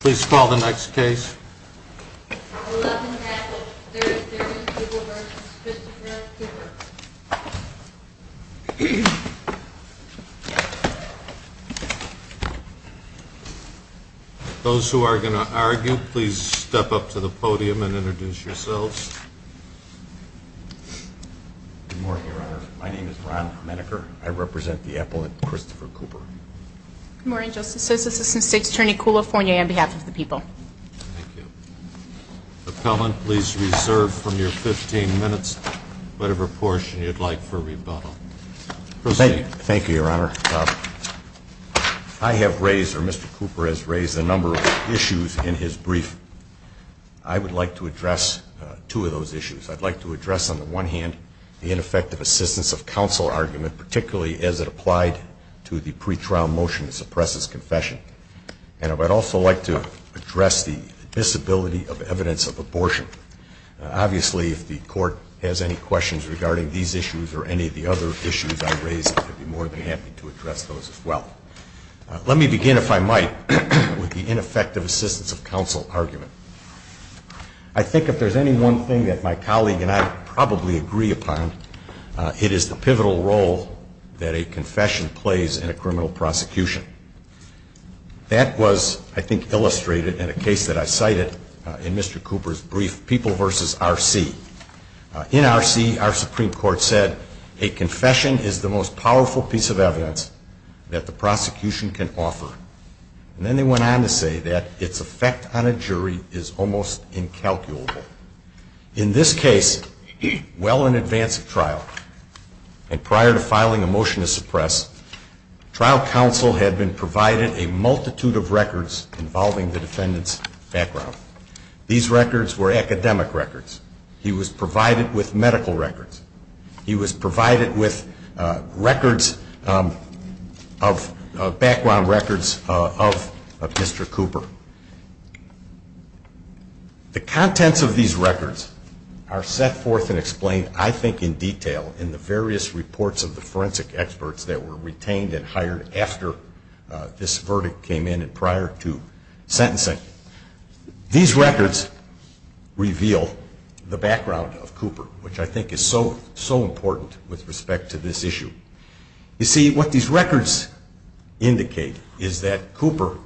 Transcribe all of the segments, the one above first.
Please call the next case. Those who are going to argue, please step up to the podium and introduce yourselves. Good morning, Your Honor. My name is Ron Menneker. I represent the Appellant Christopher Cooper. Good morning, Justice. This is Assistant State's Attorney Coolifornia on behalf of the people. Thank you. Appellant, please reserve from your 15 minutes whatever portion you'd like for rebuttal. Thank you, Your Honor. I have raised, or Mr. Cooper has raised a number of issues in his brief. I would like to address two of those issues. I'd like to address on the one hand the ineffective assistance of counsel argument, particularly as it applied to the pretrial motion that suppresses confession. And I would also like to address the disability of evidence of abortion. Obviously, if the Court has any questions regarding these issues or any of the other issues I've raised, I'd be more than happy to address those as well. Let me begin, if I might, with the ineffective assistance of counsel argument. I think if there's any one thing that my colleague and I probably agree upon, it is the pivotal role that a confession plays in a criminal prosecution. That was, I think, illustrated in a case that I cited in Mr. Cooper's brief, People v. R.C. In R.C., our Supreme Court said, a confession is the most powerful piece of evidence that the prosecution can offer. And then they went on to say that its effect on a jury is almost incalculable. In this case, well in advance of and prior to filing a motion to suppress, trial counsel had been provided a multitude of records involving the defendant's background. These records were academic records. He was provided with medical records. He was provided with records of background records of Mr. Cooper. The contents of these records are set forth and explained, I think, in detail in the various reports of the forensic experts that were retained and hired after this verdict came in and prior to sentencing. These records reveal the background of Cooper, which I think is so, so important with respect to this issue. You see, what these records indicate is that Cooper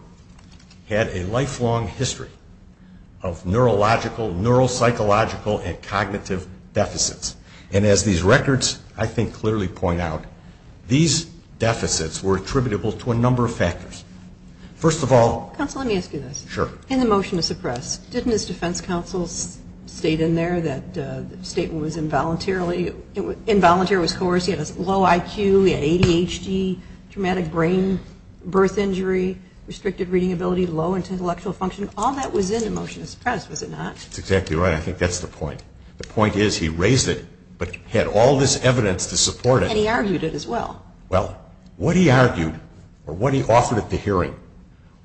had a lifelong history of neurological, neuropsychological, and cognitive deficits. And as these records, I think, clearly point out, these deficits were attributable to a number of factors. First of all... Counsel, let me ask you this. Sure. In the motion to suppress, didn't his defense counsel state in there that the statement was involuntarily, involuntary was coercive, he had a low IQ, he had ADHD, traumatic brain, birth injury, restricted reading ability, low intellectual function. All that was in the motion to suppress, was it not? That's exactly right. I think that's the point. The point is he raised it, but had all this evidence to support it. And he argued it as well. Well, what he argued, or what he offered at the hearing,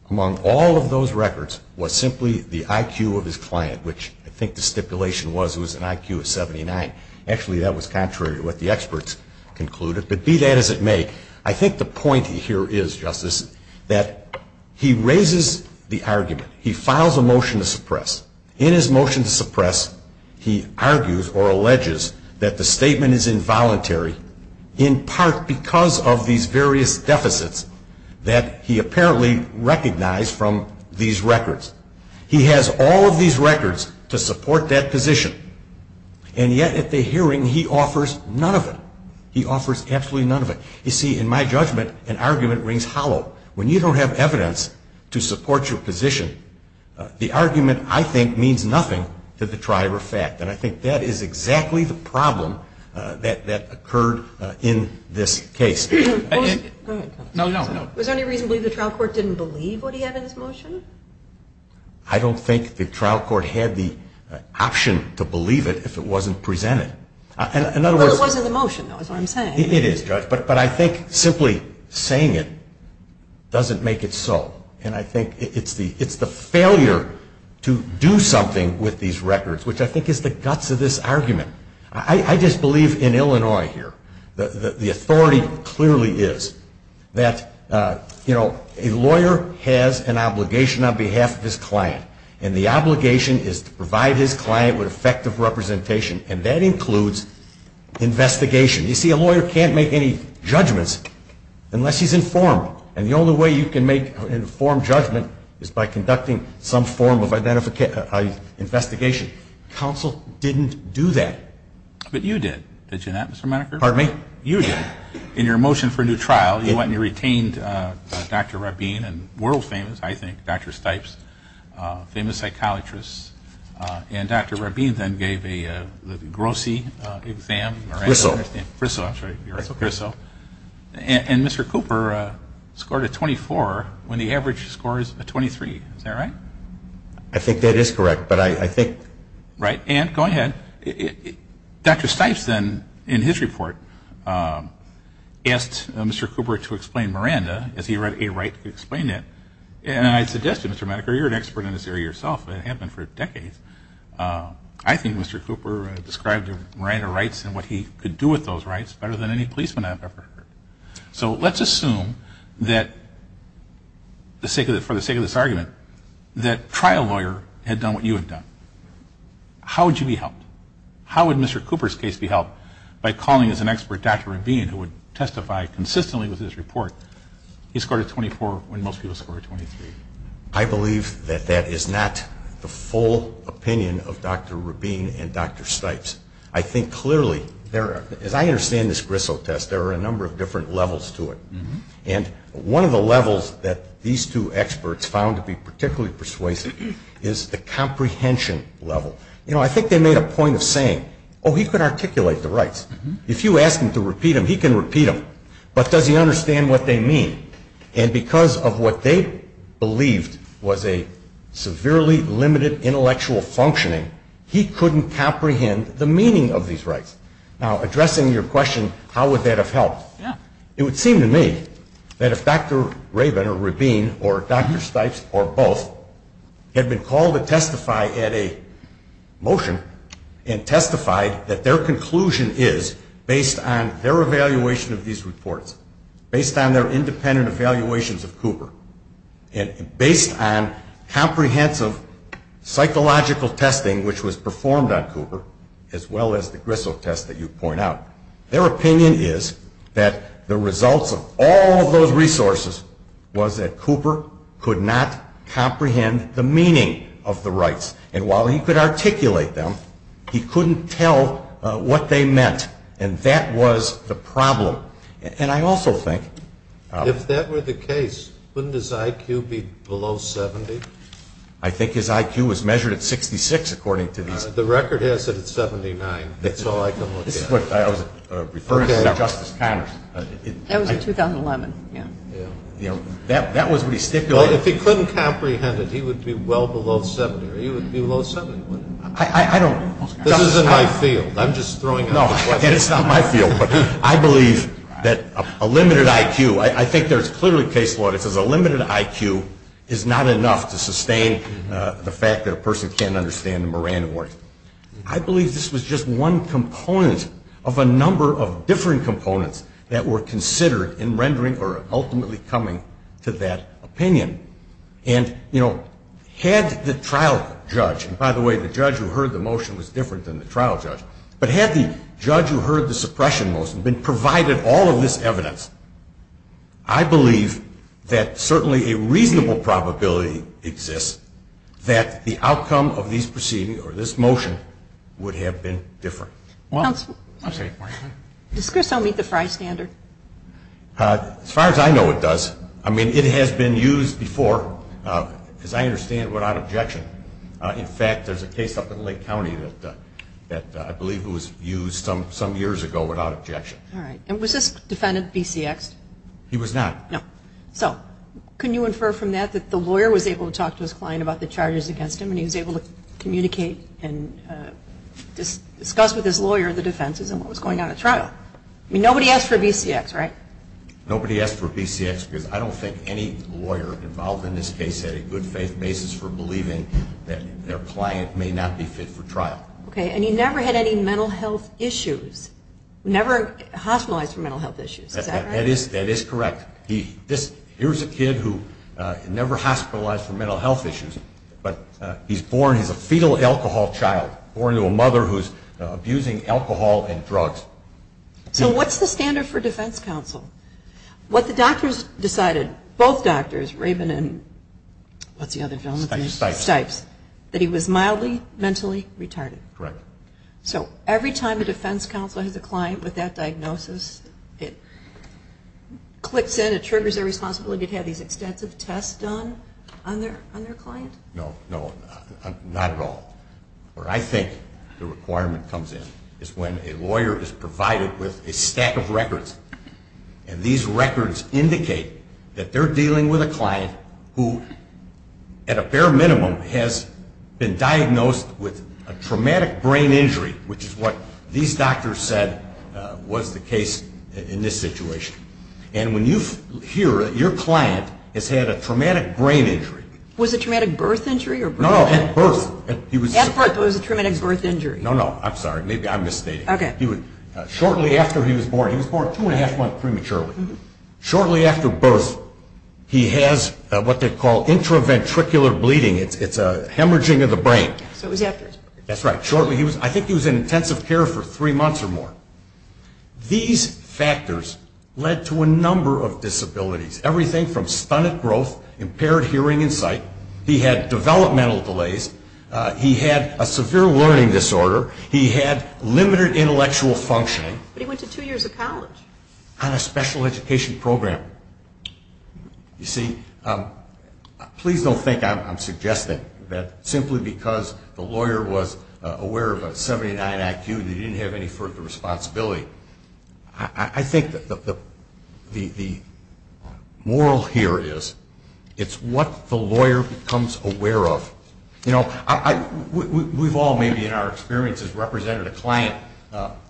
among all of those records, was simply the IQ of his client, which I think the stipulation was it was an IQ of 79. Actually, that was contrary to what the experts concluded. But be that as it may, I think the point here is, Justice, that he raises the argument. He files a motion to suppress. In his motion to suppress, he argues or alleges that the statement is involuntary, in part because of these various deficits that he apparently recognized from these records. He has all of these records to support that position. And yet, at the hearing, he offers none of that. You see, in my judgment, an argument rings hollow. When you don't have evidence to support your position, the argument, I think, means nothing to the trier of fact. And I think that is exactly the problem that occurred in this case. Was there any reason to believe the trial court didn't believe what he had in his motion? I don't think the trial court had the option to believe it if it wasn't presented. Well, it was in the motion, though, is what I'm saying. It is, Judge. But I think simply saying it doesn't make it so. And I think it's the failure to do something with these records, which I think is the guts of this argument. I just believe in Illinois here. The authority clearly is that a lawyer has an obligation on behalf of his client. And the obligation is to provide his client with effective representation. And that includes investigation. You see, a lawyer can't make any judgments unless he's informed. And the only way you can make an informed judgment is by conducting some form of investigation. Counsel didn't do that. But you did. Did you not, Mr. Meneker? Pardon me? You did. In your motion for a new trial, you retained Dr. Rabin and world-famous, I think, Dr. Stipes, famous psychiatrists. And Dr. Rabin then gave the Grossi exam. Risseau. Risseau, that's right. You're right. Risseau. And Mr. Cooper scored a 24 when the average score is a 23. Is that right? I think that is correct. But I think... Right. And go ahead. Dr. Stipes then, in his report, asked Mr. Cooper to explain Miranda, as he read a right to explain it. And I suggested, Mr. Meneker, you're an expert in this area yourself. It had happened for decades. I think Mr. Cooper described Miranda rights and what he could do with those rights better than any policeman I've ever heard. So let's assume that, for the sake of this argument, that a trial lawyer had done what you had done. How would you be helped? How would Mr. Cooper's case be helped? By calling as an expert Dr. Rabin, who would testify consistently with this report, he scored a 24 when most people scored a 23. I believe that that is not the full opinion of Dr. Rabin and Dr. Stipes. I think clearly there are, as I understand this Risseau test, there are a number of different levels to it. And one of the levels that these two experts found to be particularly persuasive is the comprehension level. You know, I think they made a point of saying, oh, he could articulate the rights. If you ask him to repeat them, he can repeat them. But does he understand what they mean? And because of what they believed was a severely limited intellectual functioning, he couldn't comprehend the meaning of these rights. Now, addressing your question, how would that have helped? It would seem to me that if Dr. Rabin or Rabin or Dr. Stipes or both had been called to testify at a motion and testified that their conclusion is, based on their evaluation of these reports, based on their independent evaluations of Cooper, and based on comprehensive psychological testing which was performed on Cooper, as well as the Grissel test that you point out, their opinion is that the results of all of those resources was that Cooper could not comprehend the meaning of the rights. And while he could articulate them, he couldn't tell what they meant. And that was the problem. And I also think If that were the case, wouldn't his IQ be below 70? I think his IQ was measured at 66, according to these The record has it at 79. That's all I can look at. This is what I was referring to Justice Connors. That was in 2011, yeah. That was what he stipulated If he couldn't comprehend it, he would be well below 70. He would be below 70, wouldn't he? I don't This is in my field. I'm just throwing out a question. No, it's not my field. But I believe that a limited IQ, I think there's clearly a case law that says a limited IQ is not enough to sustain the fact that a person can't understand them or random words. I believe this was just one component of a number of different components that were considered in rendering or ultimately coming to that opinion. And, you know, had the trial judge, and by the way, the judge who heard the motion was different than the trial judge, but had the judge who heard the suppression motion been provided all of this evidence, I believe that certainly a reasonable probability exists that the outcome of these proceedings or this motion would have been different. Counsel? I'm sorry. Does CRISO meet the FRIE standard? As far as I know, it does. I mean, it has been used before, as I understand, without objection. In fact, there's a case up in Lake County that I believe was used some years ago without objection. All right. And was this defendant BCXed? He was not. No. So, can you infer from that that the lawyer was able to talk to his client about the charges against him and he was able to communicate and discuss with his lawyer the defenses and what was going on at trial? I mean, nobody asked for BCX, right? Nobody asked for BCX because I don't think any lawyer involved in this case had a good faith basis for believing that their client may not be fit for trial. Okay. And he never had any mental health issues. Never hospitalized for mental health issues. Is that right? That is correct. Here's a kid who never hospitalized for mental health issues, but he's born, he's a fetal alcohol child, born to a mother who's abusing alcohol and drugs. So what's the standard for defense counsel? What the doctors decided, both doctors, Raven and what's the other gentleman's name? Stipes. Stipes. That he was mildly mentally retarded. Correct. So every time a defense counsel has a client with that diagnosis, it clicks in, it triggers their responsibility to have these extensive tests done on their client? No, no, not at all. Where I think the requirement comes in is when a lawyer is provided with a stack of records, and these records indicate that they're dealing with a client who, at a bare minimum, has been diagnosed with a traumatic brain injury, which is what these doctors said was the case in this situation. And when you hear that your client has had a traumatic brain injury. Was it traumatic birth injury or birth death? No, no, at birth. At birth, it was a traumatic birth injury. No, no, I'm sorry, maybe I'm misstating. Okay. Shortly after he was born, he was born two and a half months prematurely. Shortly after birth, he has what they call intraventricular bleeding. It's a hemorrhaging of the brain. So it was after his birth. That's right. I think he was in intensive care for three months or more. These factors led to a number of disabilities. Everything from stunted growth, impaired hearing and sight. He had developmental delays. He had a severe learning disorder. He had limited intellectual functioning. But he went to two years of college. On a special education program. You see, please don't think I'm suggesting that simply because the lawyer was aware of a 79 IQ and he didn't have any further responsibility. I think the moral here is, it's what the lawyer becomes aware of. You know, we've all maybe in our experiences represented a client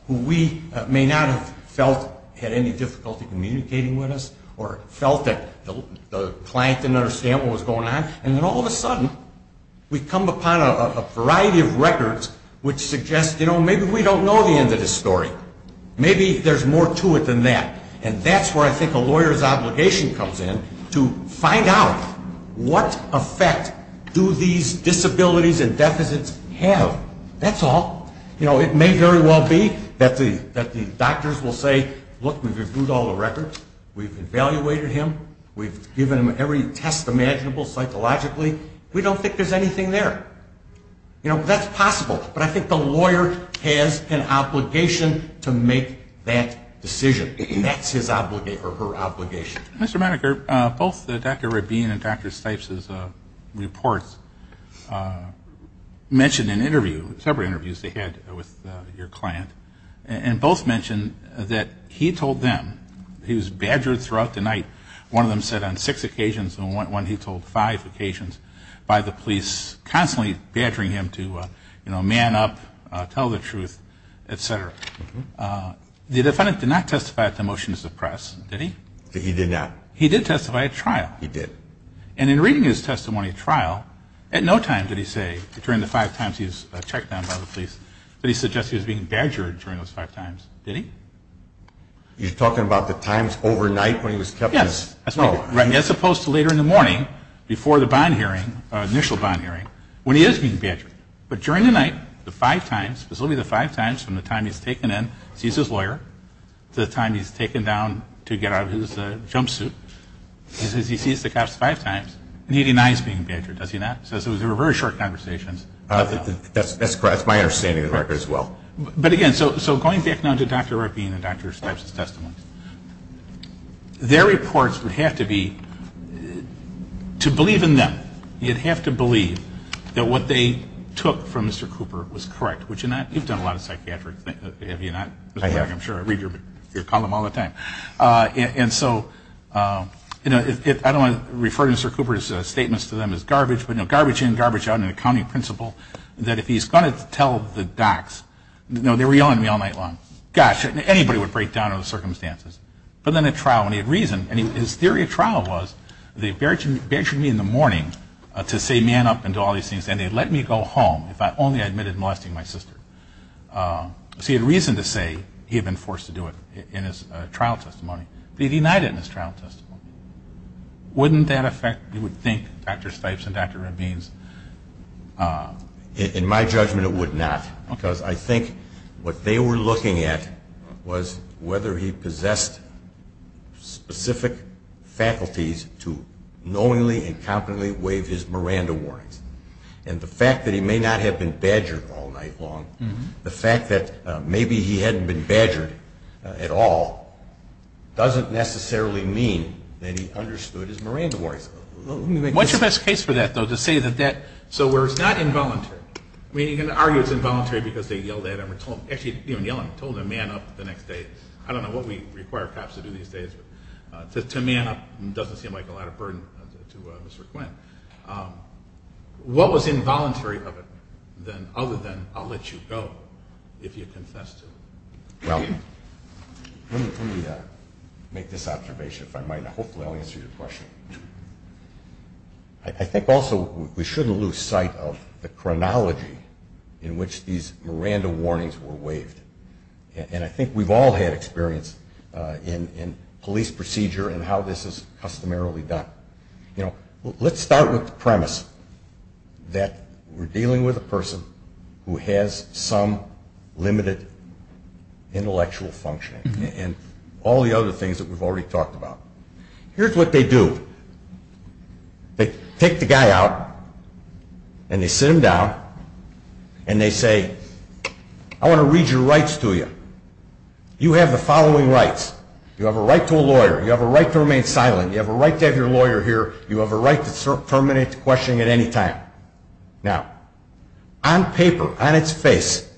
who we may not have felt had any difficulty communicating with us or felt that the client didn't understand what was going on. And then all of a sudden, we come upon a variety of records which suggest, you know, maybe we don't know the end of the story. Maybe there's more to it than that. And that's where I think a lawyer's obligation comes in, to find out what effect do these disabilities and deficits have. That's all. You know, it may very well be that the doctors will say, look, we've reviewed all the records. We've evaluated him. We've given him every test imaginable psychologically. We don't think there's anything there. You know, that's possible. But I think the lawyer has an obligation to make that decision. That's his obligation or her obligation. Mr. Maneker, both Dr. Rabin and Dr. Stipes' reports mentioned in interview, several interviews they had with your client, and both mentioned that he told them, he was badgered throughout the night. One of them said on six occasions and one he told five occasions by the police constantly badgering him to, you know, man up, tell the truth, et cetera. The defendant did not testify at the motion to suppress, did he? He did not. He did testify at trial. He did. And in reading his testimony at trial, at no time did he say, during the five times he was checked on by the police, that he suggested he was being badgered during those five times. Did he? You're talking about the times overnight when he was kept in his cell? Yes. As opposed to later in the morning before the bond hearing, initial bond hearing, when he is being badgered. But during the night, the five times, specifically the five times from the time he's taken in to see his lawyer to the time he's taken down to get out of his jumpsuit, he says he sees the cops five times and he denies being badgered, does he not? He says it was a very short conversation. That's correct. That's my understanding of the record as well. But again, so going back now to Dr. Ruppian and Dr. Stipes' testimony, their reports would have to be, to believe in them, you'd have to believe that what they took from Mr. Cooper was correct, would you not? You've done a lot of psychiatric, have you not, Mr. Ruppian? I'm sure I read your column all the time. And so, you know, I don't want to refer to Mr. Cooper's statements to them as garbage, but, you know, garbage in, garbage out in the county principal, that if he's going to tell the docs, you know, they were yelling at me all night long, gosh, anybody would break down under those circumstances. But then at trial, when he had reason, and his theory of trial was they badgered me in the morning to say man up and do all these things and they'd let me go home if I only admitted molesting my sister. So he had reason to say he had been forced to do it in his trial testimony. But he denied it in his trial testimony. Wouldn't that affect, you would think, Dr. Stipes and Dr. Ruppians? In my judgment, it would not. Because I think what they were looking at was whether he possessed specific faculties to knowingly and confidently waive his Miranda warnings. And the fact that he may not have been badgered all night long, the fact that maybe he understood his Miranda warnings. What's your best case for that, though, to say that that, so where it's not involuntary, I mean, you can argue it's involuntary because they yelled at him or told him, actually even yelling, told him man up the next day. I don't know what we require cops to do these days, but to man up doesn't seem like a lot of burden to Mr. Quinn. What was involuntary of it, other than I'll let you go if you confess to it? Well, let me make this observation, if I might. Hopefully I'll answer your question. I think also we shouldn't lose sight of the chronology in which these Miranda warnings were waived. And I think we've all had experience in police procedure and how this is customarily done. You know, let's start with the premise that we're dealing with a person who has some limited intellectual functioning and all the other things that we've already talked about. Here's what they do. They take the guy out and they sit him down and they say, I want to read your rights to you. You have the following rights. You have a right to a lawyer. You have a right to remain silent. You have a right to have your lawyer here. You have a right to terminate questioning at any time. Now, on paper, on its face,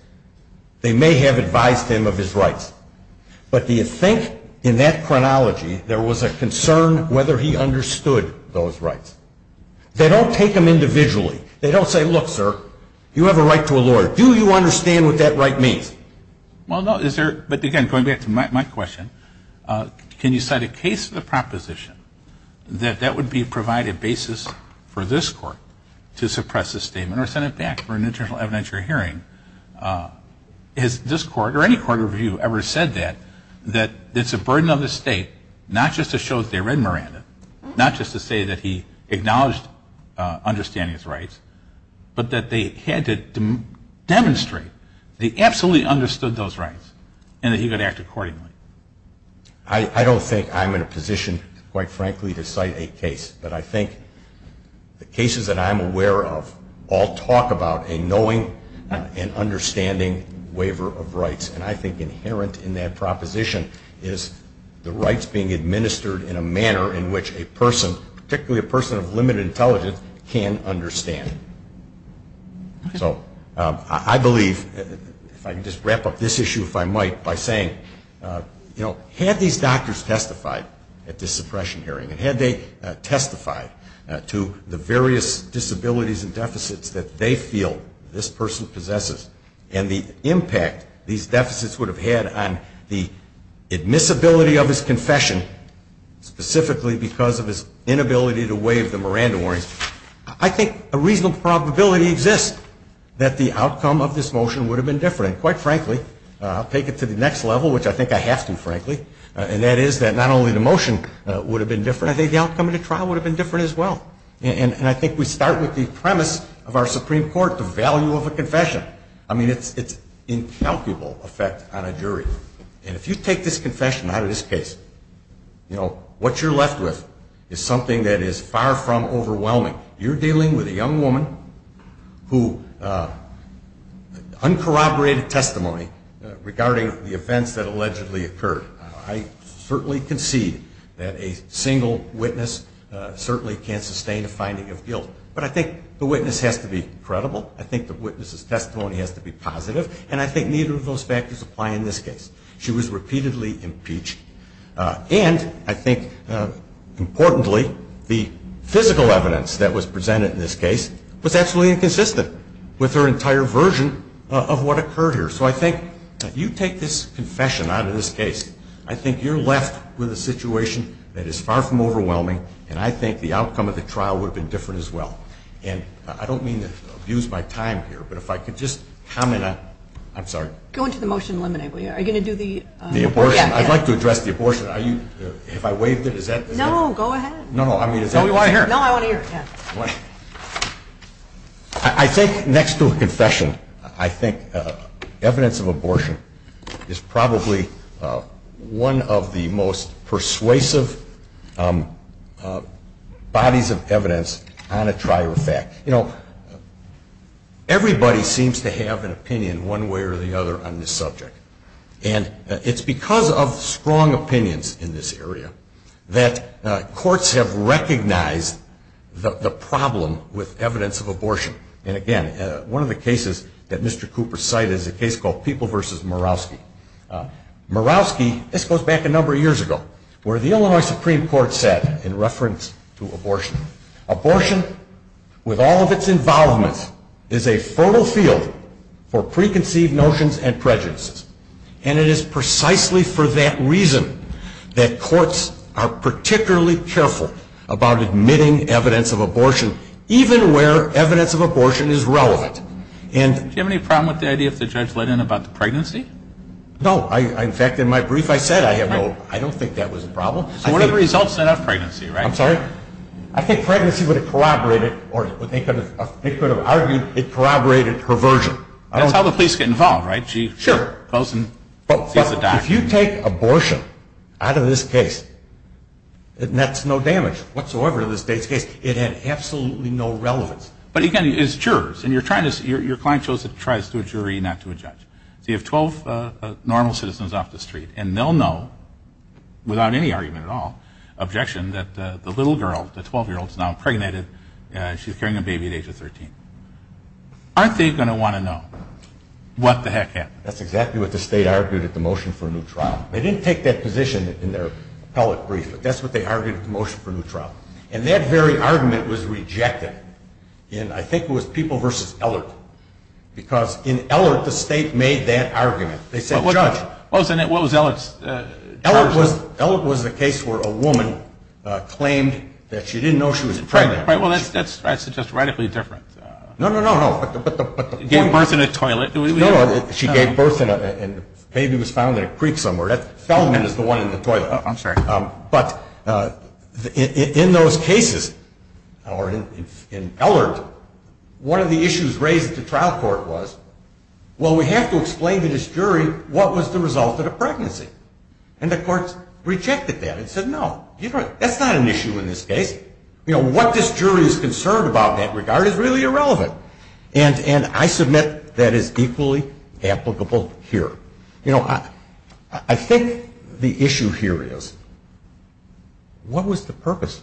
they may have advised him of his rights. But do you think in that chronology there was a concern whether he understood those rights? They don't take them individually. They don't say, look, sir, you have a right to a lawyer. Do you understand what that right means? Well, no. But again, going back to my question, can you cite a case of the proposition that that would provide a basis for this court to suppress the statement or send it back for an internal evidentiary hearing? Has this court or any court review ever said that, that it's a burden on the state not just to show that they read Miranda, not just to say that he acknowledged understanding his rights, but that they had to demonstrate the absolutely understood those rights and that he could act accordingly? I don't think I'm in a position, quite frankly, to cite a case. But I think the cases that I'm aware of all talk about a knowing and understanding waiver of rights. And I think inherent in that proposition is the rights being administered in a manner in which a person, particularly a person of limited intelligence, can understand. So I believe, if I can just wrap up this issue, if I might, by saying, you know, had these doctors testified at this suppression hearing and had they testified to the various disabilities and deficits that they feel this person possesses and the impact these deficits would have had on the admissibility of his confession, specifically because of his inability to waive the Miranda warrants, I think a reasonable probability exists that the outcome of this motion would have been different. And quite frankly, I'll take it to the next level, which I think I have to, frankly, and that is that not only the motion would have been different, I think the outcome of the trial would have been different as well. And I think we start with the premise of our Supreme Court, the value of a confession. I mean, it's incalculable effect on a jury. And if you take this confession out of this case, you know, what you're left with is something that is far from overwhelming. You're dealing with a young woman who uncorroborated testimony regarding the events that allegedly occurred. I certainly concede that a single witness certainly can't sustain a finding of guilt. But I think the witness has to be credible. I think the witness's testimony has to be positive. And I think neither of those factors apply in this case. She was repeatedly impeached. And I think, importantly, the physical evidence that was presented in this case was absolutely inconsistent with her entire version of what occurred here. So I think if you take this confession out of this case, I think you're left with a situation that is far from overwhelming, and I think the outcome of the trial would have been different as well. And I don't mean to abuse my time here, but if I could just comment Go into the motion and eliminate it. Are you going to do the abortion? I'd like to address the abortion. Have I waived it? No, go ahead. I think next to a confession, I think evidence of abortion is probably one of the most persuasive bodies of evidence on a trial of fact. You know, everybody seems to have an opinion one way or the other on this subject. And it's because of strong opinions in this area that courts have recognized the problem with evidence of abortion. And again, one of the cases that Mr. Cooper cited is a case called People v. Murawski. Murawski, this goes back a number of years ago, where the Illinois Supreme Court said, to abortion. Abortion, with all of its involvements, is a fertile field for preconceived notions and prejudices. And it is precisely for that reason that courts are particularly careful about admitting evidence of abortion, even where evidence of abortion is relevant. Do you have any problem with the idea that the judge let in about the pregnancy? No. In fact, in my brief I said I have no, I don't think that was a problem. So what are the results then of pregnancy, right? I'm sorry? I think pregnancy would have corroborated, or they could have argued it corroborated perversion. That's how the police get involved, right? Sure. She goes and sees the doctor. But if you take abortion out of this case, it nets no damage whatsoever to this case. It had absolutely no relevance. But again, it's jurors. And your client chose to try this to a jury, not to a judge. So you have 12 normal citizens off the street, and they'll know, without any argument at all, objection that the little girl, the 12-year-old, is now impregnated, and she's carrying a baby at age 13. Aren't they going to want to know what the heck happened? That's exactly what the state argued at the motion for a new trial. They didn't take that position in their appellate brief, but that's what they argued at the motion for a new trial. And that very argument was rejected in, I think it was, People v. Ellert. Because in Ellert, the state made that argument. They said, Judge. What was Ellert's judgment? Ellert was the case where a woman claimed that she didn't know she was pregnant. Right. Well, that's just radically different. No, no, no, no. But the point was... Gave birth in a toilet. No, no. She gave birth and the baby was found in a creek somewhere. Feldman is the one in the toilet. Oh, I'm sorry. But in those cases, or in Ellert, one of the issues raised at the trial court was... Well, we have to explain to this jury what was the result of the pregnancy. And the courts rejected that and said, No. That's not an issue in this case. What this jury is concerned about in that regard is really irrelevant. And I submit that is equally applicable here. I think the issue here is... What was the purpose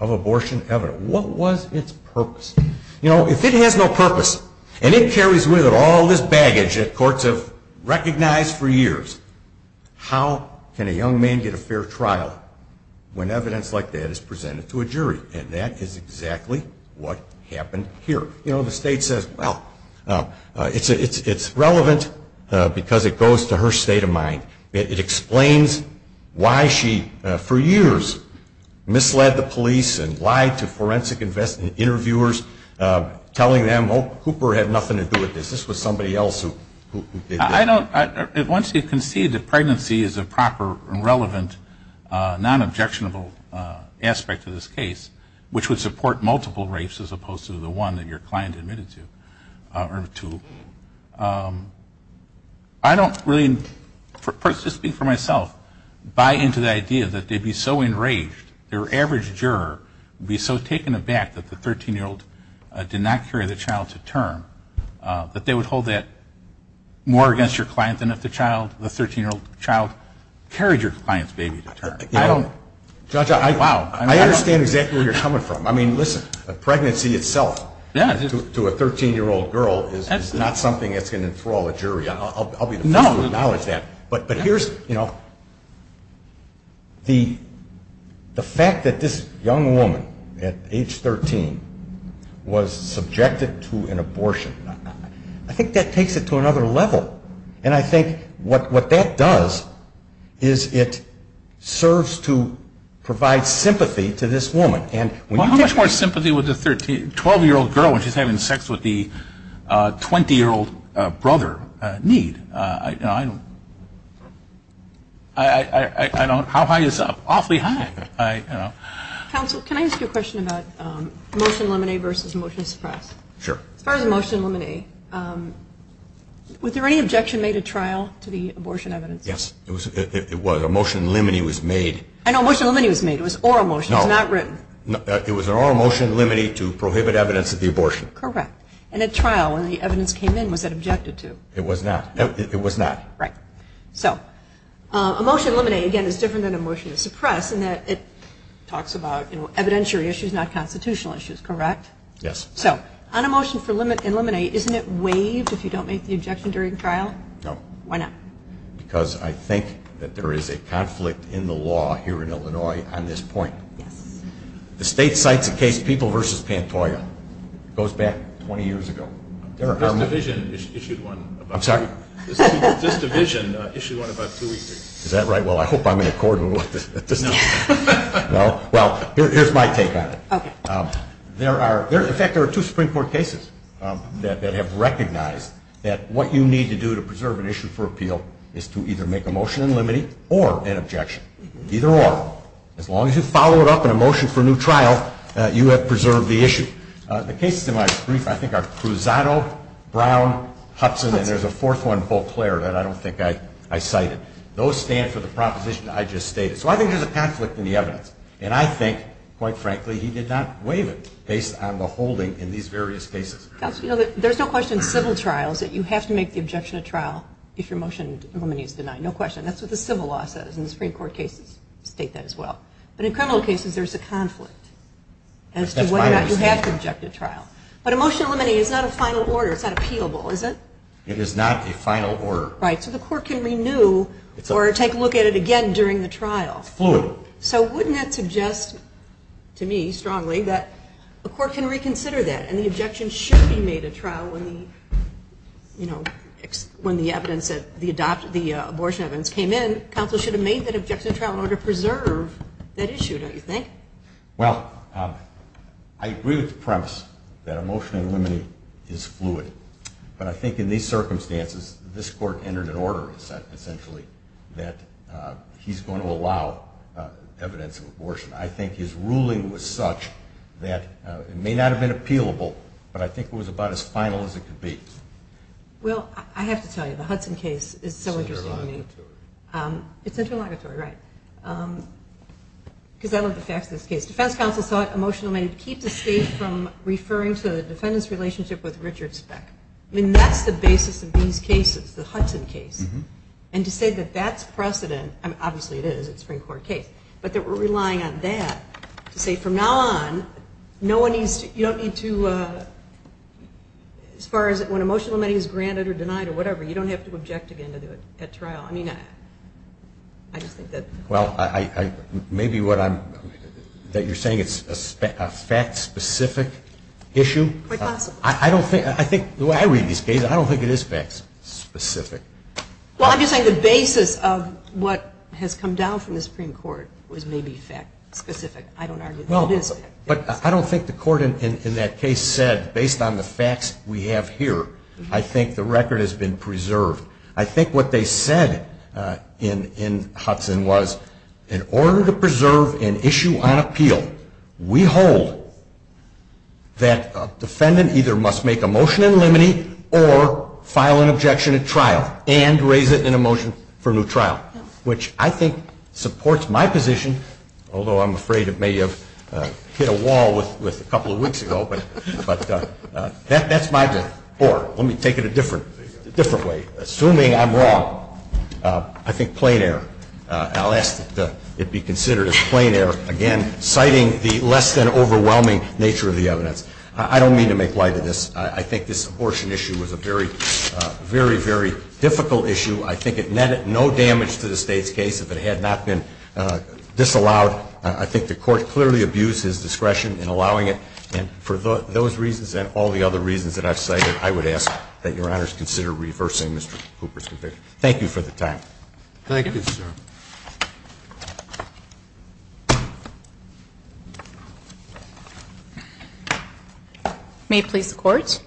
of abortion evidence? What was its purpose? If it has no purpose and it carries with it all this baggage that courts have recognized for years... How can a young man get a fair trial when evidence like that is presented to a jury? And that is exactly what happened here. You know, the state says, Well, it's relevant because it goes to her state of mind. It explains why she, for years, misled the police and lied to forensic interviewers telling them, Oh, Cooper had nothing to do with this. This was somebody else who did this. I don't... Once you concede that pregnancy is a proper and relevant, non-objectionable aspect of this case, which would support multiple rapes as opposed to the one that your client admitted to. I don't really, just speaking for myself, buy into the idea that they'd be so enraged, their average juror would be so taken aback that the 13-year-old did not carry the child to term, that they would hold that more against your client than if the 13-year-old child carried your client's baby to term. I don't... I understand exactly where you're coming from. I mean, listen, a pregnancy itself to a 13-year-old girl is not something that's going to enthrall a jury. I'll be the first to acknowledge that. But here's, you know, the fact that this young woman at age 13 was subjected to an abortion, I think that takes it to another level. And I think what that does is it serves to provide sympathy to this woman. Well, how much more sympathy would a 12-year-old girl when she's having sex with the 20-year-old brother need? You know, I don't... I don't... How high is up? Awfully high, you know. Counsel, can I ask you a question about motion limine versus motion to suppress? Sure. As far as motion limine, was there any objection made at trial to the abortion evidence? Yes. It was. A motion limine was made. I know. A motion limine was made. It was oral motion. No. It was not written. It was an oral motion limine to prohibit evidence of the abortion. Correct. And at trial, when the evidence came in, was that objected to? It was not. It was not. Right. So a motion limine, again, is different than a motion to suppress in that it talks about, you know, evidentiary issues, not constitutional issues, correct? Yes. So on a motion for limine, isn't it waived if you don't make the objection during trial? No. Why not? Because I think that there is a conflict in the law here in Illinois on this point. Yes. The state cites a case, People v. Pantoja. It goes back 20 years ago. This division issued one about two weeks ago. I'm sorry? This division issued one about two weeks ago. Is that right? Well, I hope I'm in accord with what this does. No. No? Well, here's my take on it. Okay. There are, in fact, there are two Supreme Court cases that have recognized that what you need to do to preserve an issue for appeal is to either make a motion in limine or an objection. Either or. As long as you follow it up in a motion for a new trial, you have preserved the issue. The cases in my brief, I think, are Cruzado, Brown, Hudson, and there's a fourth one, Beauclair, that I don't think I cited. Those stand for the proposition I just stated. So I think there's a conflict in the evidence. And I think, quite frankly, he did not waive it based on the holding in these various cases. There's no question in civil trials that you have to make the objection of trial if your motion in limine is denied. No question. That's what the civil law says and the Supreme Court cases state that as well. But in criminal cases, there's a conflict as to whether or not you have to object to trial. But a motion in limine is not a final order. It's not appealable, is it? It is not a final order. Right. So the court can renew or take a look at it again during the trial. Fluid. So wouldn't that suggest to me, strongly, that a court can reconsider that and the objection should be made at trial when the abortion evidence came in. Counsel should have made that objection to trial in order to preserve that issue, don't you think? Well, I agree with the premise that a motion in limine is fluid. But I think in these circumstances, this court entered an order, essentially, that he's going to allow evidence of abortion. I think his ruling was such that it may not have been appealable, but I think it was about as final as it could be. Well, I have to tell you, the Hudson case is so interesting to me. It's interlocutory. It's interlocutory, right. Because I love the facts of this case. Defense counsel sought a motion in limine to keep the state from referring to the defendant's relationship with Richard Speck. I mean, that's the basis of these cases, the Hudson case. And to say that that's precedent, obviously it is. It's a Supreme Court case. But that we're relying on that to say from now on, no one needs to, you don't need to, as far as when a motion in limine is granted or denied or whatever, you don't have to object again at trial. I mean, I just think that. Well, maybe what you're saying is a fact-specific issue. Quite possibly. The way I read these cases, I don't think it is fact-specific. Well, I'm just saying the basis of what has come down from the Supreme Court was maybe fact-specific. I don't argue that it is fact-specific. But I don't think the court in that case said, based on the facts we have here, I think the record has been preserved. I think what they said in Hudson was, in order to preserve an issue on appeal, we hold that a defendant either must make a motion in limine or file an objection at trial and raise it in a motion for a new trial, which I think supports my position, although I'm afraid it may have hit a wall with a couple of weeks ago, but that's my view. Or let me take it a different way. Assuming I'm wrong, I think plain error. I'll ask that it be considered as plain error, again, citing the less than overwhelming nature of the evidence. I don't mean to make light of this. I think this abortion issue was a very, very difficult issue. I think it netted no damage to the State's case if it had not been disallowed. I think the court clearly abused his discretion in allowing it. And for those reasons and all the other reasons that I've cited, I would ask that Your Honors consider reversing Mr. Cooper's conviction. Thank you for the time. Thank you, sir. May it please the Court.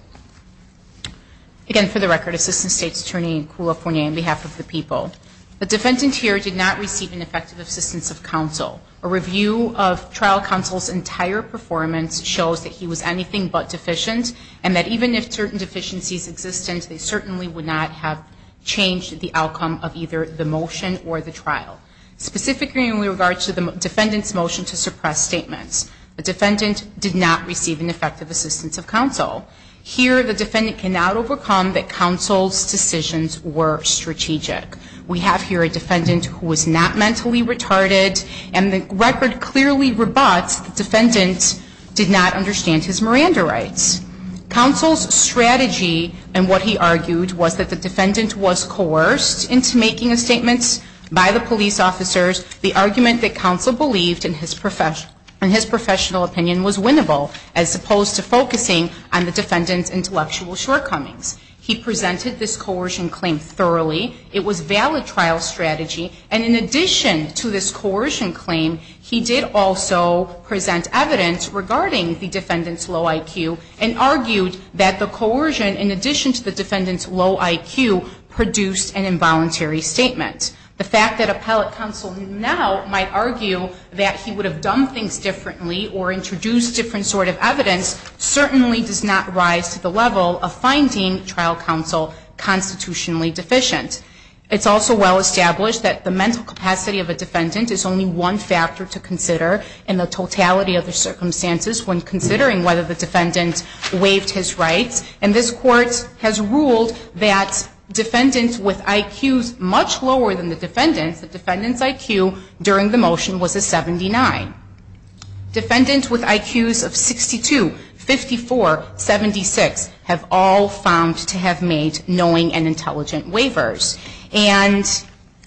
Again, for the record, Assistant State's Attorney in California, on behalf of the people. The defendant here did not receive an effective assistance of counsel. A review of trial counsel's entire performance shows that he was anything but deficient and that even if certain deficiencies existed, they certainly would not have changed the outcome of either the motion or the trial. Specifically in regards to the defendant's motion to suppress statements, the defendant did not receive an effective assistance of counsel. Here, the defendant cannot overcome that counsel's decisions were strategic. We have here a defendant who was not mentally retarded, and the record clearly rebuts the defendant did not understand his Miranda rights. Counsel's strategy and what he argued was that the defendant was coerced into making a statement by the police officers. The argument that counsel believed in his professional opinion was winnable as opposed to focusing on the defendant's intellectual shortcomings. He presented this coercion claim thoroughly. It was valid trial strategy. And in addition to this coercion claim, he did also present evidence regarding the defendant's low IQ and argued that the coercion, in addition to the defendant's low IQ, produced an involuntary statement. The fact that appellate counsel now might argue that he would have done things differently or introduced different sort of evidence certainly does not rise to the level of finding trial counsel constitutionally deficient. It's also well established that the mental capacity of a defendant is only one factor to consider in the totality of the circumstances when considering whether the defendant waived his rights. And this Court has ruled that defendants with IQs much lower than the defendant's, the defendant's IQ during the motion was a 79. Defendants with IQs of 62, 54, 76 have all found to have made knowing and intelligent waivers. And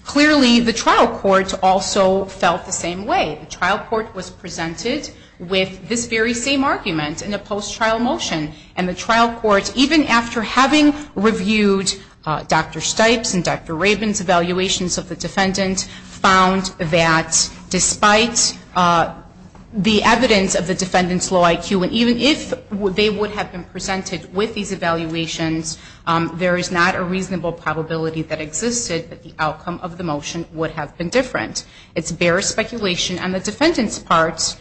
clearly the trial court also felt the same way. The trial court was presented with this very same argument in a post-trial motion. And the trial court, even after having reviewed Dr. Stipes' and Dr. Rabin's evaluations of the defendant, found that despite the evidence of the defendant's low IQ, and even if they would have been presented with these evaluations, there is not a reasonable probability that existed that the outcome of the motion would have been different. It's bare speculation on the defendant's part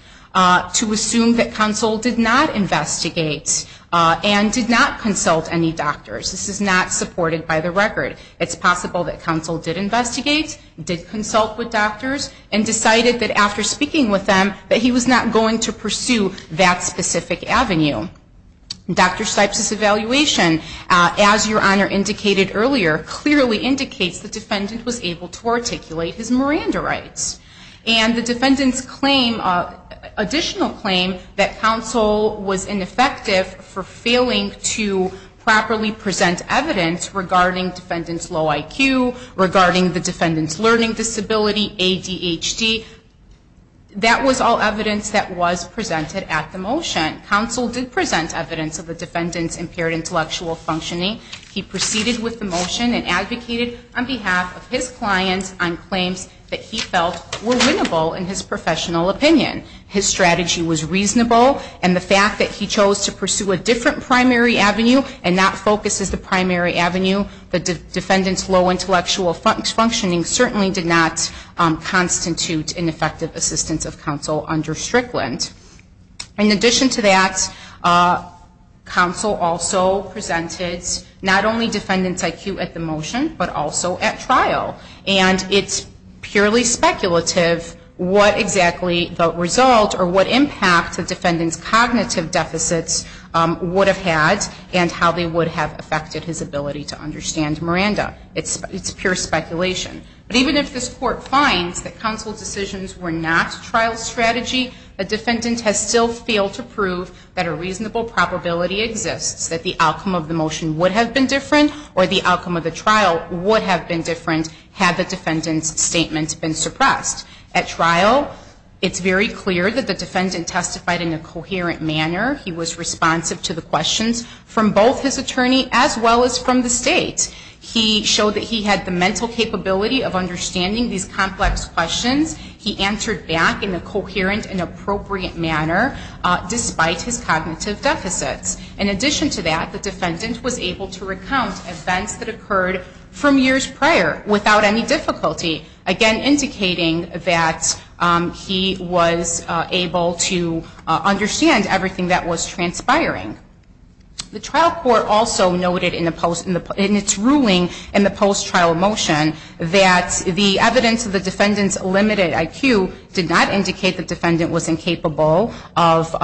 to assume that counsel did not investigate and did not consult any doctors. This is not supported by the record. It's possible that counsel did investigate, did consult with doctors, and decided that after speaking with them that he was not going to pursue that specific avenue. Dr. Stipes' evaluation, as Your Honor indicated earlier, clearly indicates the defendant was able to articulate his Miranda rights. And the defendant's additional claim that counsel was ineffective for failing to properly present evidence regarding the defendant's low IQ, regarding the defendant's learning disability, ADHD, that was all evidence that was presented at the motion. Counsel did present evidence of the defendant's impaired intellectual functioning. He proceeded with the motion and advocated on behalf of his client on claims that he felt were winnable in his professional opinion. His strategy was reasonable, and the fact that he chose to pursue a different primary avenue and not focus as the primary avenue, the defendant's low intellectual functioning certainly did not constitute ineffective assistance of counsel under Strickland. In addition to that, counsel also presented not only defendant's IQ at the motion, but also at trial. And it's purely speculative what exactly the result or what impact the defendant's cognitive deficits would have had and how they would have affected his ability to understand Miranda. It's pure speculation. But even if this Court finds that counsel's decisions were not trial strategy, the defendant has still failed to prove that a reasonable probability exists that the outcome of the motion would have been different or the outcome of the trial would have been different had the defendant's statement been suppressed. At trial, it's very clear that the defendant testified in a coherent manner. He was responsive to the questions from both his attorney as well as from the state. He showed that he had the mental capability of understanding these complex questions. He answered back in a coherent and appropriate manner despite his cognitive deficits. In addition to that, the defendant was able to recount events that occurred from years prior without any difficulty, again indicating that he was able to understand everything that was transpiring. The trial court also noted in its ruling in the post-trial motion that the evidence of the defendant's limited IQ did not indicate the defendant was incapable of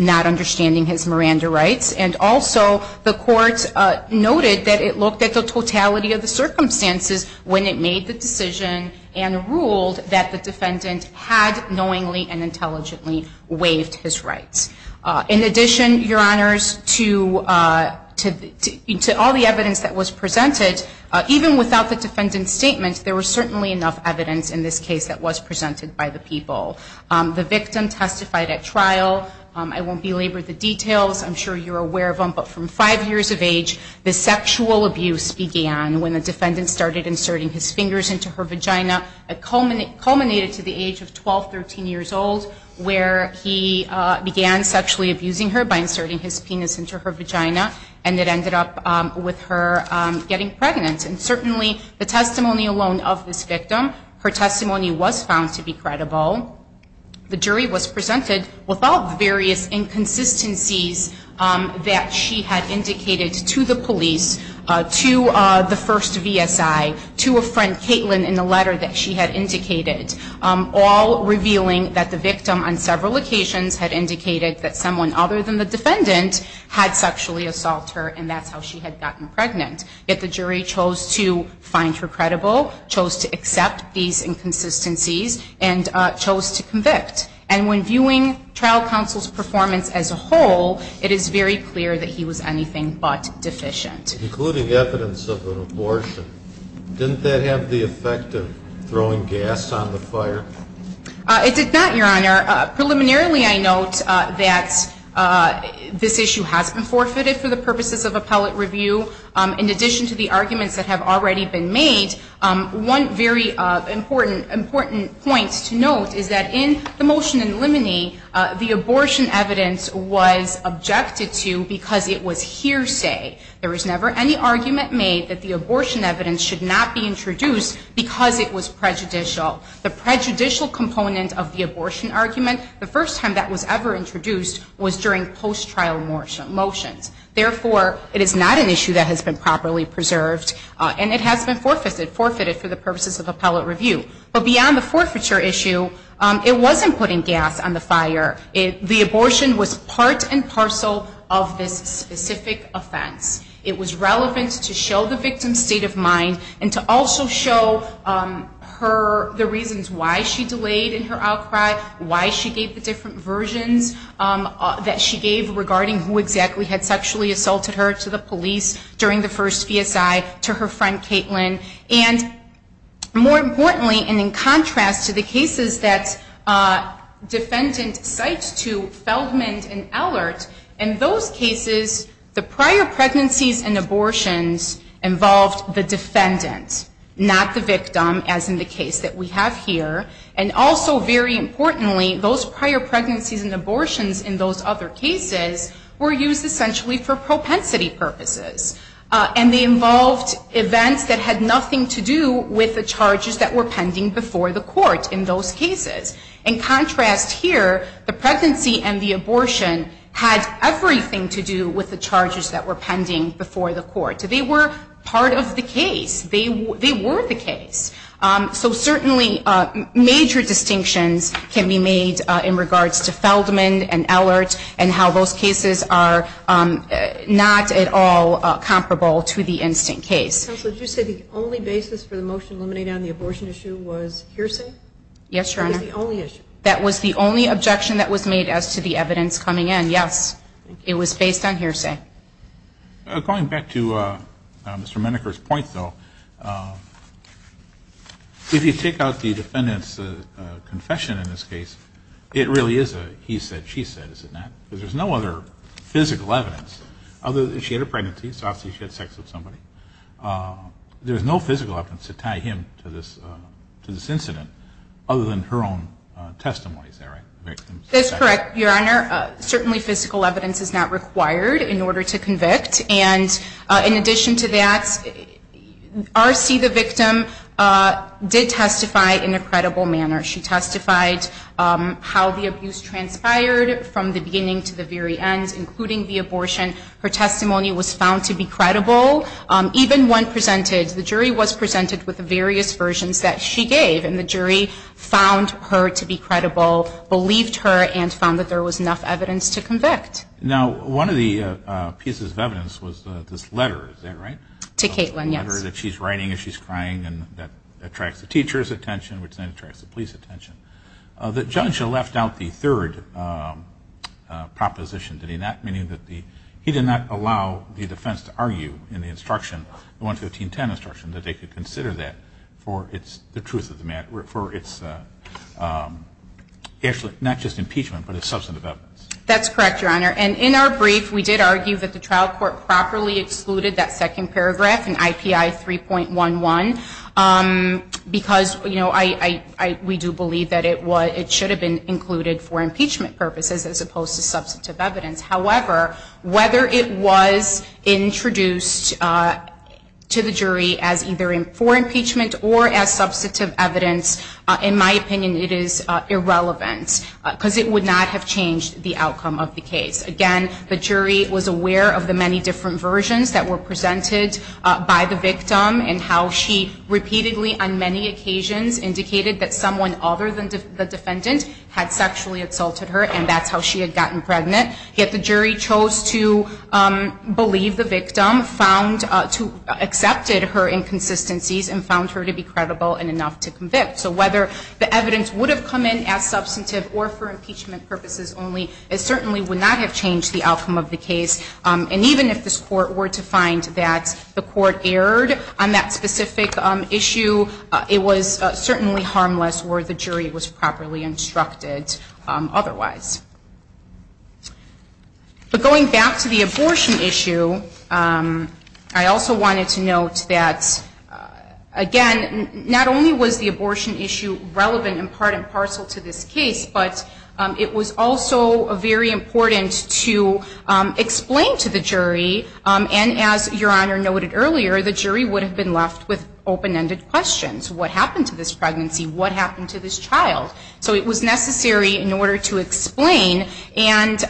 not understanding his Miranda rights. And also the court noted that it looked at the totality of the circumstances when it made the decision and ruled that the defendant had knowingly and intelligently waived his rights. In addition, Your Honors, to all the evidence that was presented, even without the defendant's statement, there was certainly enough evidence in this case that was presented by the people. The victim testified at trial. I won't belabor the details. I'm sure you're aware of them. But from five years of age, the sexual abuse began when the defendant started inserting his fingers into her vagina. It culminated to the age of 12, 13 years old, where he began sexually abusing her by inserting his penis into her vagina, and it ended up with her getting pregnant. And certainly the testimony alone of this victim, her testimony was found to be credible. The jury was presented without various inconsistencies that she had indicated to the police, to the first VSI, to a friend, Caitlin, in the letter that she had indicated, all revealing that the victim on several occasions had indicated that someone other than the defendant had sexually assaulted her, and that's how she had gotten pregnant. Yet the jury chose to find her credible, chose to accept these inconsistencies, and chose to convict. And when viewing trial counsel's performance as a whole, it is very clear that he was anything but deficient. Including evidence of an abortion, didn't that have the effect of throwing gas on the fire? It did not, Your Honor. Preliminarily I note that this issue has been forfeited for the purposes of appellate review. In addition to the arguments that have already been made, one very important point to note is that in the motion in Limine, the abortion evidence was objected to because it was hearsay. There was never any argument made that the abortion evidence should not be introduced because it was prejudicial. The prejudicial component of the abortion argument, the first time that was ever introduced was during post-trial motions. Therefore, it is not an issue that has been properly preserved, and it has been forfeited for the purposes of appellate review. But beyond the forfeiture issue, it wasn't putting gas on the fire. The abortion was part and parcel of this specific offense. It was relevant to show the victim's state of mind and to also show the reasons why she delayed in her outcry, why she gave the different versions that she gave regarding who exactly had sexually assaulted her to the police during the first VSI to her friend Caitlin. And more importantly, and in contrast to the cases that defendant cites to Feldman and Allert, in those cases the prior pregnancies and abortions involved the defendant, not the victim as in the case that we have here. And also very importantly, those prior pregnancies and abortions in those other cases were used essentially for propensity purposes. And they involved events that had nothing to do with the charges that were pending before the court in those cases. In contrast here, the pregnancy and the abortion had everything to do with the charges that were pending before the court. They were part of the case. They were the case. So certainly major distinctions can be made in regards to Feldman and Allert and how those cases are not at all comparable to the instant case. Counsel, did you say the only basis for the motion eliminating the abortion issue was hearsay? Yes, Your Honor. It was the only issue. That was the only objection that was made as to the evidence coming in. Yes, it was based on hearsay. Going back to Mr. Meneker's point, though, if you take out the defendant's confession in this case, it really is a he said, she said, is it not? Because there's no other physical evidence other than she had a pregnancy, so obviously she had sex with somebody. There's no physical evidence to tie him to this incident other than her own testimony. Is that right? That's correct, Your Honor. Certainly physical evidence is not required in order to convict. And in addition to that, RC, the victim, did testify in a credible manner. She testified how the abuse transpired from the beginning to the very end, including the abortion. Her testimony was found to be credible. Even when presented, the jury was presented with the various versions that she gave, and the jury found her to be credible, believed her, and found that there was enough evidence to convict. Now, one of the pieces of evidence was this letter. Is that right? To Caitlin, yes. A letter that she's writing as she's crying and that attracts the teacher's attention, which then attracts the police's attention. The judge left out the third proposition. Did he not? Meaning that he did not allow the defense to argue in the instruction, the 11510 instruction, that they could consider that for the truth of the matter, for its actually not just impeachment, but its substantive evidence. That's correct, Your Honor. And in our brief, we did argue that the trial court properly excluded that second paragraph in IPI 3.11 because we do believe that it should have been included for impeachment purposes, as opposed to substantive evidence. However, whether it was introduced to the jury as either for impeachment or as substantive evidence, in my opinion, it is irrelevant because it would not have changed the outcome of the case. Again, the jury was aware of the many different versions that were presented by the victim and how she repeatedly, on many occasions, indicated that someone other than the defendant had sexually exalted her, and that's how she had gotten pregnant. Yet the jury chose to believe the victim, accepted her inconsistencies, and found her to be credible and enough to convict. So whether the evidence would have come in as substantive or for impeachment purposes only, it certainly would not have changed the outcome of the case. And even if this court were to find that the court erred on that specific issue, it was certainly harmless were the jury was properly instructed otherwise. But going back to the abortion issue, I also wanted to note that, again, not only was the abortion issue relevant in part and parcel to this case, but it was also very important to explain to the jury. And as Your Honor noted earlier, the jury would have been left with open-ended questions. What happened to this pregnancy? What happened to this child? So it was necessary in order to explain. And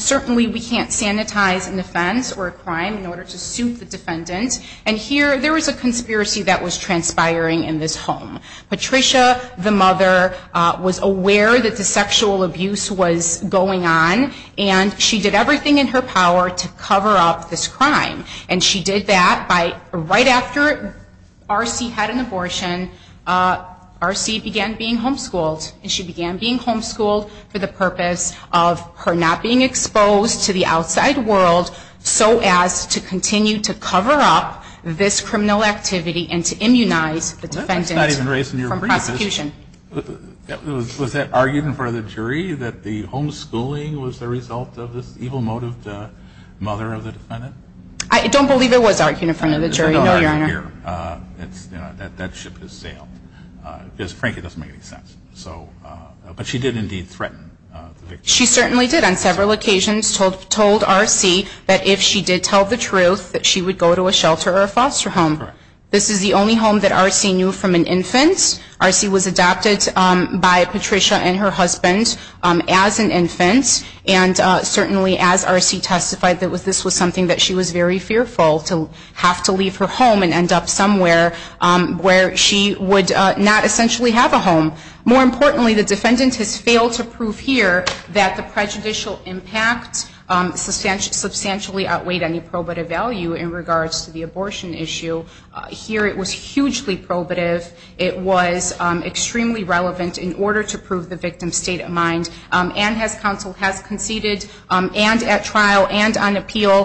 certainly we can't sanitize an offense or a crime in order to suit the defendant. And here there was a conspiracy that was transpiring in this home. Patricia, the mother, was aware that the sexual abuse was going on, and she did everything in her power to cover up this crime. And she did that right after R.C. had an abortion. R.C. began being homeschooled, and she began being homeschooled for the purpose of her not being exposed to the outside world so as to continue to cover up this criminal activity and to immunize the defendant from prosecution. Was that argued in front of the jury that the homeschooling was the result of this evil-motived mother of the defendant? I don't believe it was argued in front of the jury, no, Your Honor. It's not argued here. That ship has sailed. Because, frankly, it doesn't make any sense. But she did indeed threaten the victim. She certainly did on several occasions told R.C. that if she did tell the truth, that she would go to a shelter or a foster home. This is the only home that R.C. knew from an infant. R.C. was adopted by Patricia and her husband as an infant, and certainly as R.C. testified that this was something that she was very fearful, to have to leave her home and end up somewhere where she would not essentially have a home. More importantly, the defendant has failed to prove here that the prejudicial impact substantially outweighed any probative value in regards to the abortion issue. Here it was hugely probative. It was extremely relevant in order to prove the victim's state of mind. And as counsel has conceded, and at trial, and on appeal,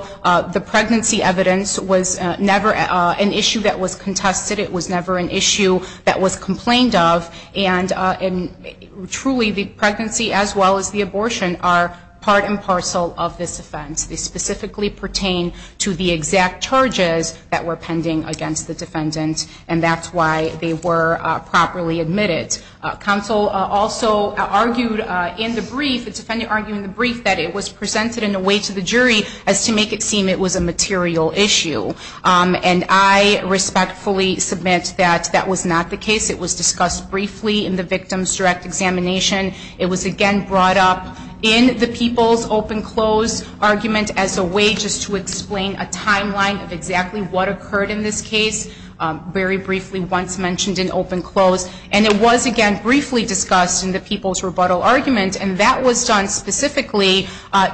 the pregnancy evidence was never an issue that was contested. It was never an issue that was complained of. And truly, the pregnancy as well as the abortion are part and parcel of this offense. They specifically pertain to the exact charges that were pending against the defendant, and that's why they were properly admitted. Counsel also argued in the brief, the defendant argued in the brief, that it was presented in a way to the jury as to make it seem it was a material issue. And I respectfully submit that that was not the case. It was discussed briefly in the victim's direct examination. It was, again, brought up in the people's open-close argument as a way just to explain a timeline of exactly what occurred in this case, very briefly once mentioned in open-close. And it was, again, briefly discussed in the people's rebuttal argument, and that was done specifically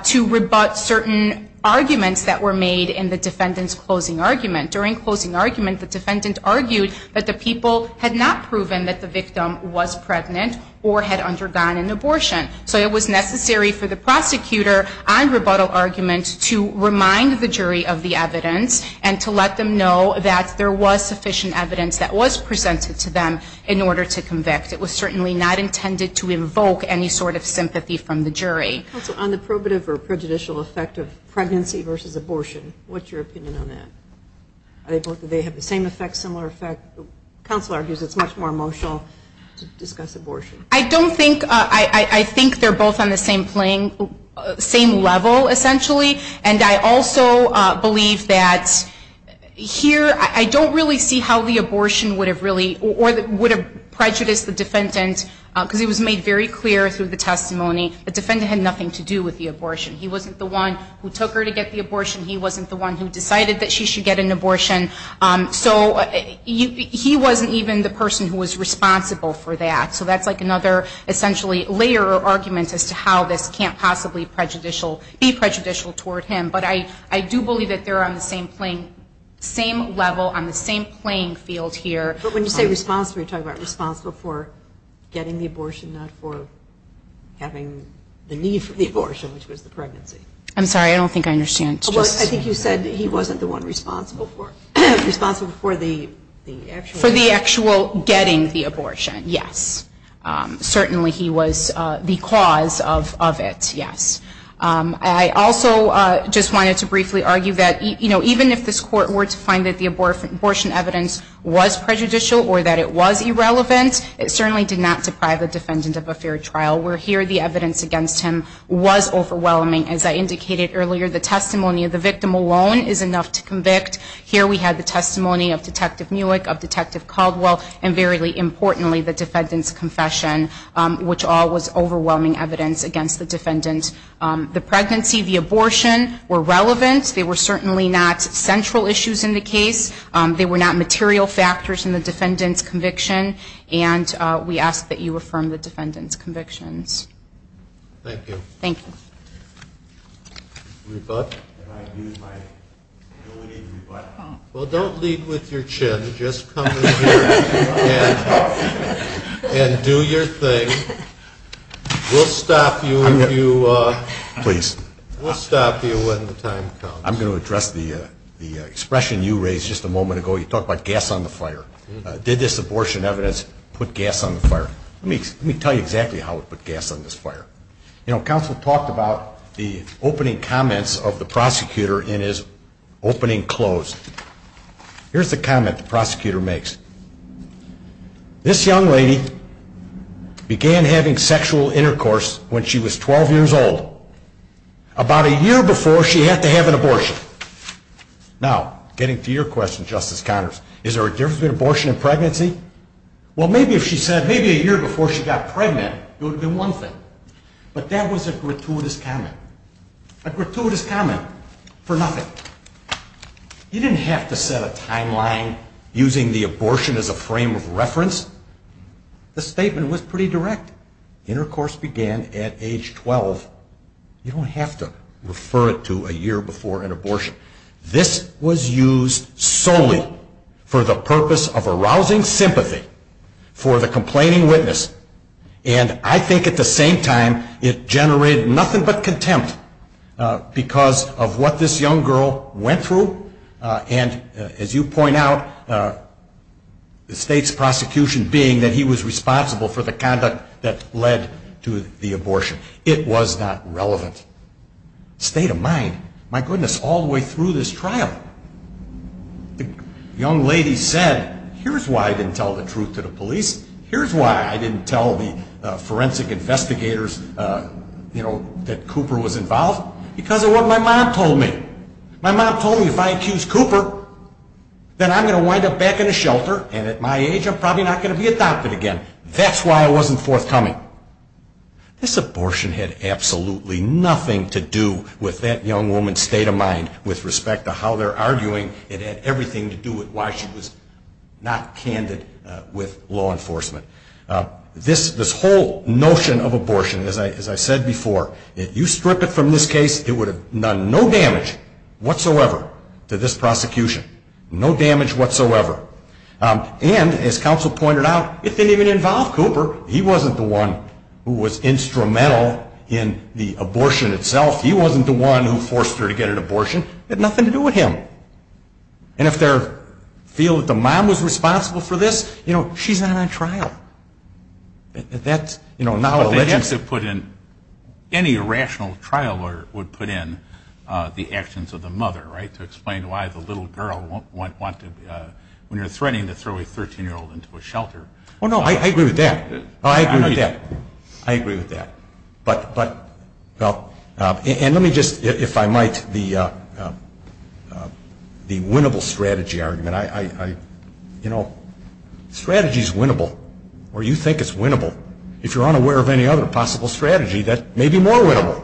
to rebut certain arguments that were made in the defendant's closing argument. During closing argument, the defendant argued that the people had not proven that the victim was pregnant or had undergone an abortion. So it was necessary for the prosecutor on rebuttal argument to remind the jury of the evidence and to let them know that there was sufficient evidence that was presented to them in order to convict. It was certainly not intended to evoke any sort of sympathy from the jury. Counsel, on the probative or prejudicial effect of pregnancy versus abortion, what's your opinion on that? Do they have the same effect, similar effect? Counsel argues it's much more emotional to discuss abortion. I don't think, I think they're both on the same level, essentially. And I also believe that here I don't really see how the abortion would have really, or would have prejudiced the defendant because it was made very clear through the testimony he wasn't the one who took her to get the abortion, he wasn't the one who decided that she should get an abortion. So he wasn't even the person who was responsible for that. So that's like another, essentially, layer or argument as to how this can't possibly be prejudicial toward him. But I do believe that they're on the same level, on the same playing field here. But when you say responsible, you're talking about responsible for getting the abortion, not for having the need for the abortion, which was the pregnancy. I'm sorry, I don't think I understand. I think you said he wasn't the one responsible for the actual... For the actual getting the abortion, yes. Certainly he was the cause of it, yes. I also just wanted to briefly argue that even if this Court were to find that the abortion evidence was prejudicial or that it was irrelevant, it certainly did not deprive the defendant of a fair trial, where here the evidence against him was overwhelming. As I indicated earlier, the testimony of the victim alone is enough to convict. Here we had the testimony of Detective Mulek, of Detective Caldwell, and very importantly, the defendant's confession, which all was overwhelming evidence against the defendant. The pregnancy, the abortion were relevant. They were certainly not central issues in the case. They were not material factors in the defendant's conviction. And we ask that you affirm the defendant's convictions. Thank you. Well, don't lead with your chin. Just come in here and do your thing. We'll stop you when the time comes. I'm going to address the expression you raised just a moment ago. You talked about gas on the fire. Did this abortion evidence put gas on the fire? Let me tell you exactly how it put gas on this fire. You know, counsel talked about the opening comments of the prosecutor in his opening close. Here's the comment the prosecutor makes. This young lady began having sexual intercourse when she was 12 years old, about a year before she had to have an abortion. Now, getting to your question, Justice Connors, is there a difference between abortion and pregnancy? Well, maybe if she said maybe a year before she got pregnant, it would have been one thing. But that was a gratuitous comment, a gratuitous comment for nothing. You didn't have to set a timeline using the abortion as a frame of reference. The statement was pretty direct. Intercourse began at age 12. You don't have to refer it to a year before an abortion. This was used solely for the purpose of arousing sympathy for the complaining witness. And I think at the same time it generated nothing but contempt because of what this young girl went through. And as you point out, the state's prosecution being that he was responsible for the conduct that this young girl went through. That led to the abortion. It was not relevant. The state of mind, my goodness, all the way through this trial, the young lady said, here's why I didn't tell the truth to the police, here's why I didn't tell the forensic investigators that Cooper was involved, because of what my mom told me. My mom told me if I accuse Cooper, then I'm going to wind up back in a shelter and at my age I'm probably not going to be adopted again. That's why I wasn't forthcoming. This abortion had absolutely nothing to do with that young woman's state of mind with respect to how they're arguing. It had everything to do with why she was not candid with law enforcement. This whole notion of abortion, as I said before, if you strip it from this case, it would have done no damage whatsoever to this prosecution. No damage whatsoever. And as counsel pointed out, it didn't even involve Cooper. He wasn't the one who was instrumental in the abortion itself. He wasn't the one who forced her to get an abortion. It had nothing to do with him. And if they feel that the mom was responsible for this, she's not on trial. But they have to put in, any rational trial would put in the actions of the mother, right, to explain why the little girl won't want to, when you're threatening to throw a 13-year-old into a shelter. Well, no, I agree with that. And let me just, if I might, the winnable strategy argument. You know, strategy is winnable, or you think it's winnable. If you're unaware of any other possible strategy, that may be more winnable.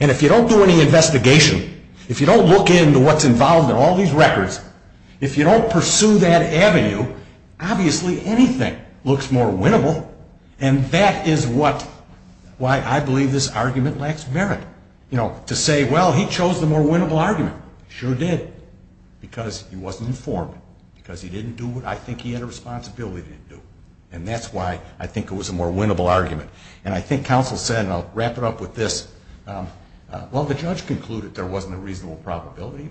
And if you don't do any investigation, if you don't look into what's involved in all these records, if you don't pursue that avenue, obviously anything looks more winnable. And that is what, why I believe this argument lacks merit. You know, to say, well, he chose the more winnable argument. Sure did, because he wasn't informed, because he didn't do what I think he had a responsibility to do. And that's why I think it was a more winnable argument. And I think counsel said, and I'll wrap it up with this, well, the judge concluded there wasn't a reasonable probability.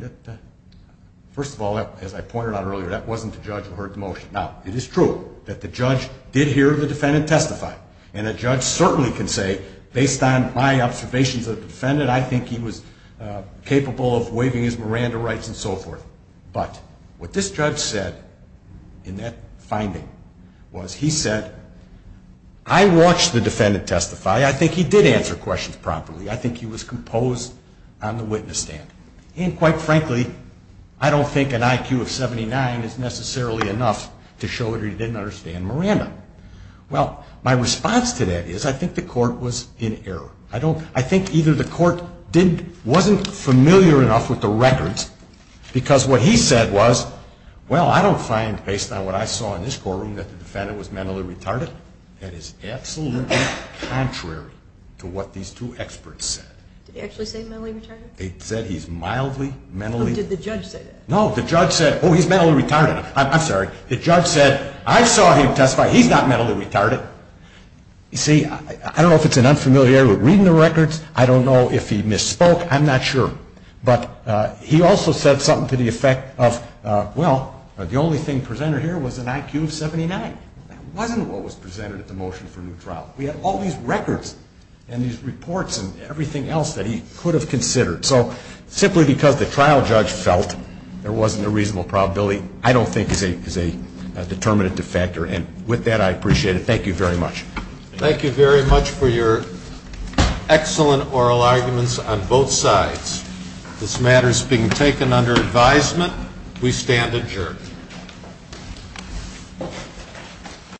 First of all, as I pointed out earlier, that wasn't the judge who heard the motion. Now, it is true that the judge did hear the defendant testify, and a judge certainly can say, based on my observations of the defendant, I think he was capable of waiving his Miranda rights and so forth. But what this judge said in that finding was he said, I watched the defendant testify. I think he did answer questions properly. I think he was composed on the witness stand. And quite frankly, I don't think an IQ of 79 is necessarily enough to show that he didn't understand Miranda. Well, my response to that is I think the court was in error. I think either the court wasn't familiar enough with the records, because what he said was, well, I don't find, based on what I saw in this courtroom, that the defendant was mentally retarded. That is absolutely contrary to what these two experts said. Did he actually say mentally retarded? No, the judge said, oh, he's mentally retarded. I'm sorry. The judge said, I saw him testify. He's not mentally retarded. See, I don't know if it's an unfamiliarity with reading the records. I don't know if he misspoke. I'm not sure. But he also said something to the effect of, well, the only thing presented here was an IQ of 79. That wasn't what was presented at the motion for new trial. We had all these records and these reports and everything else that he could have considered. So simply because the trial judge felt there wasn't a reasonable probability I don't think is a determinative factor. And with that, I appreciate it. Thank you very much. Thank you very much for your excellent oral arguments on both sides. This matter is being taken under advisement. We stand adjourned.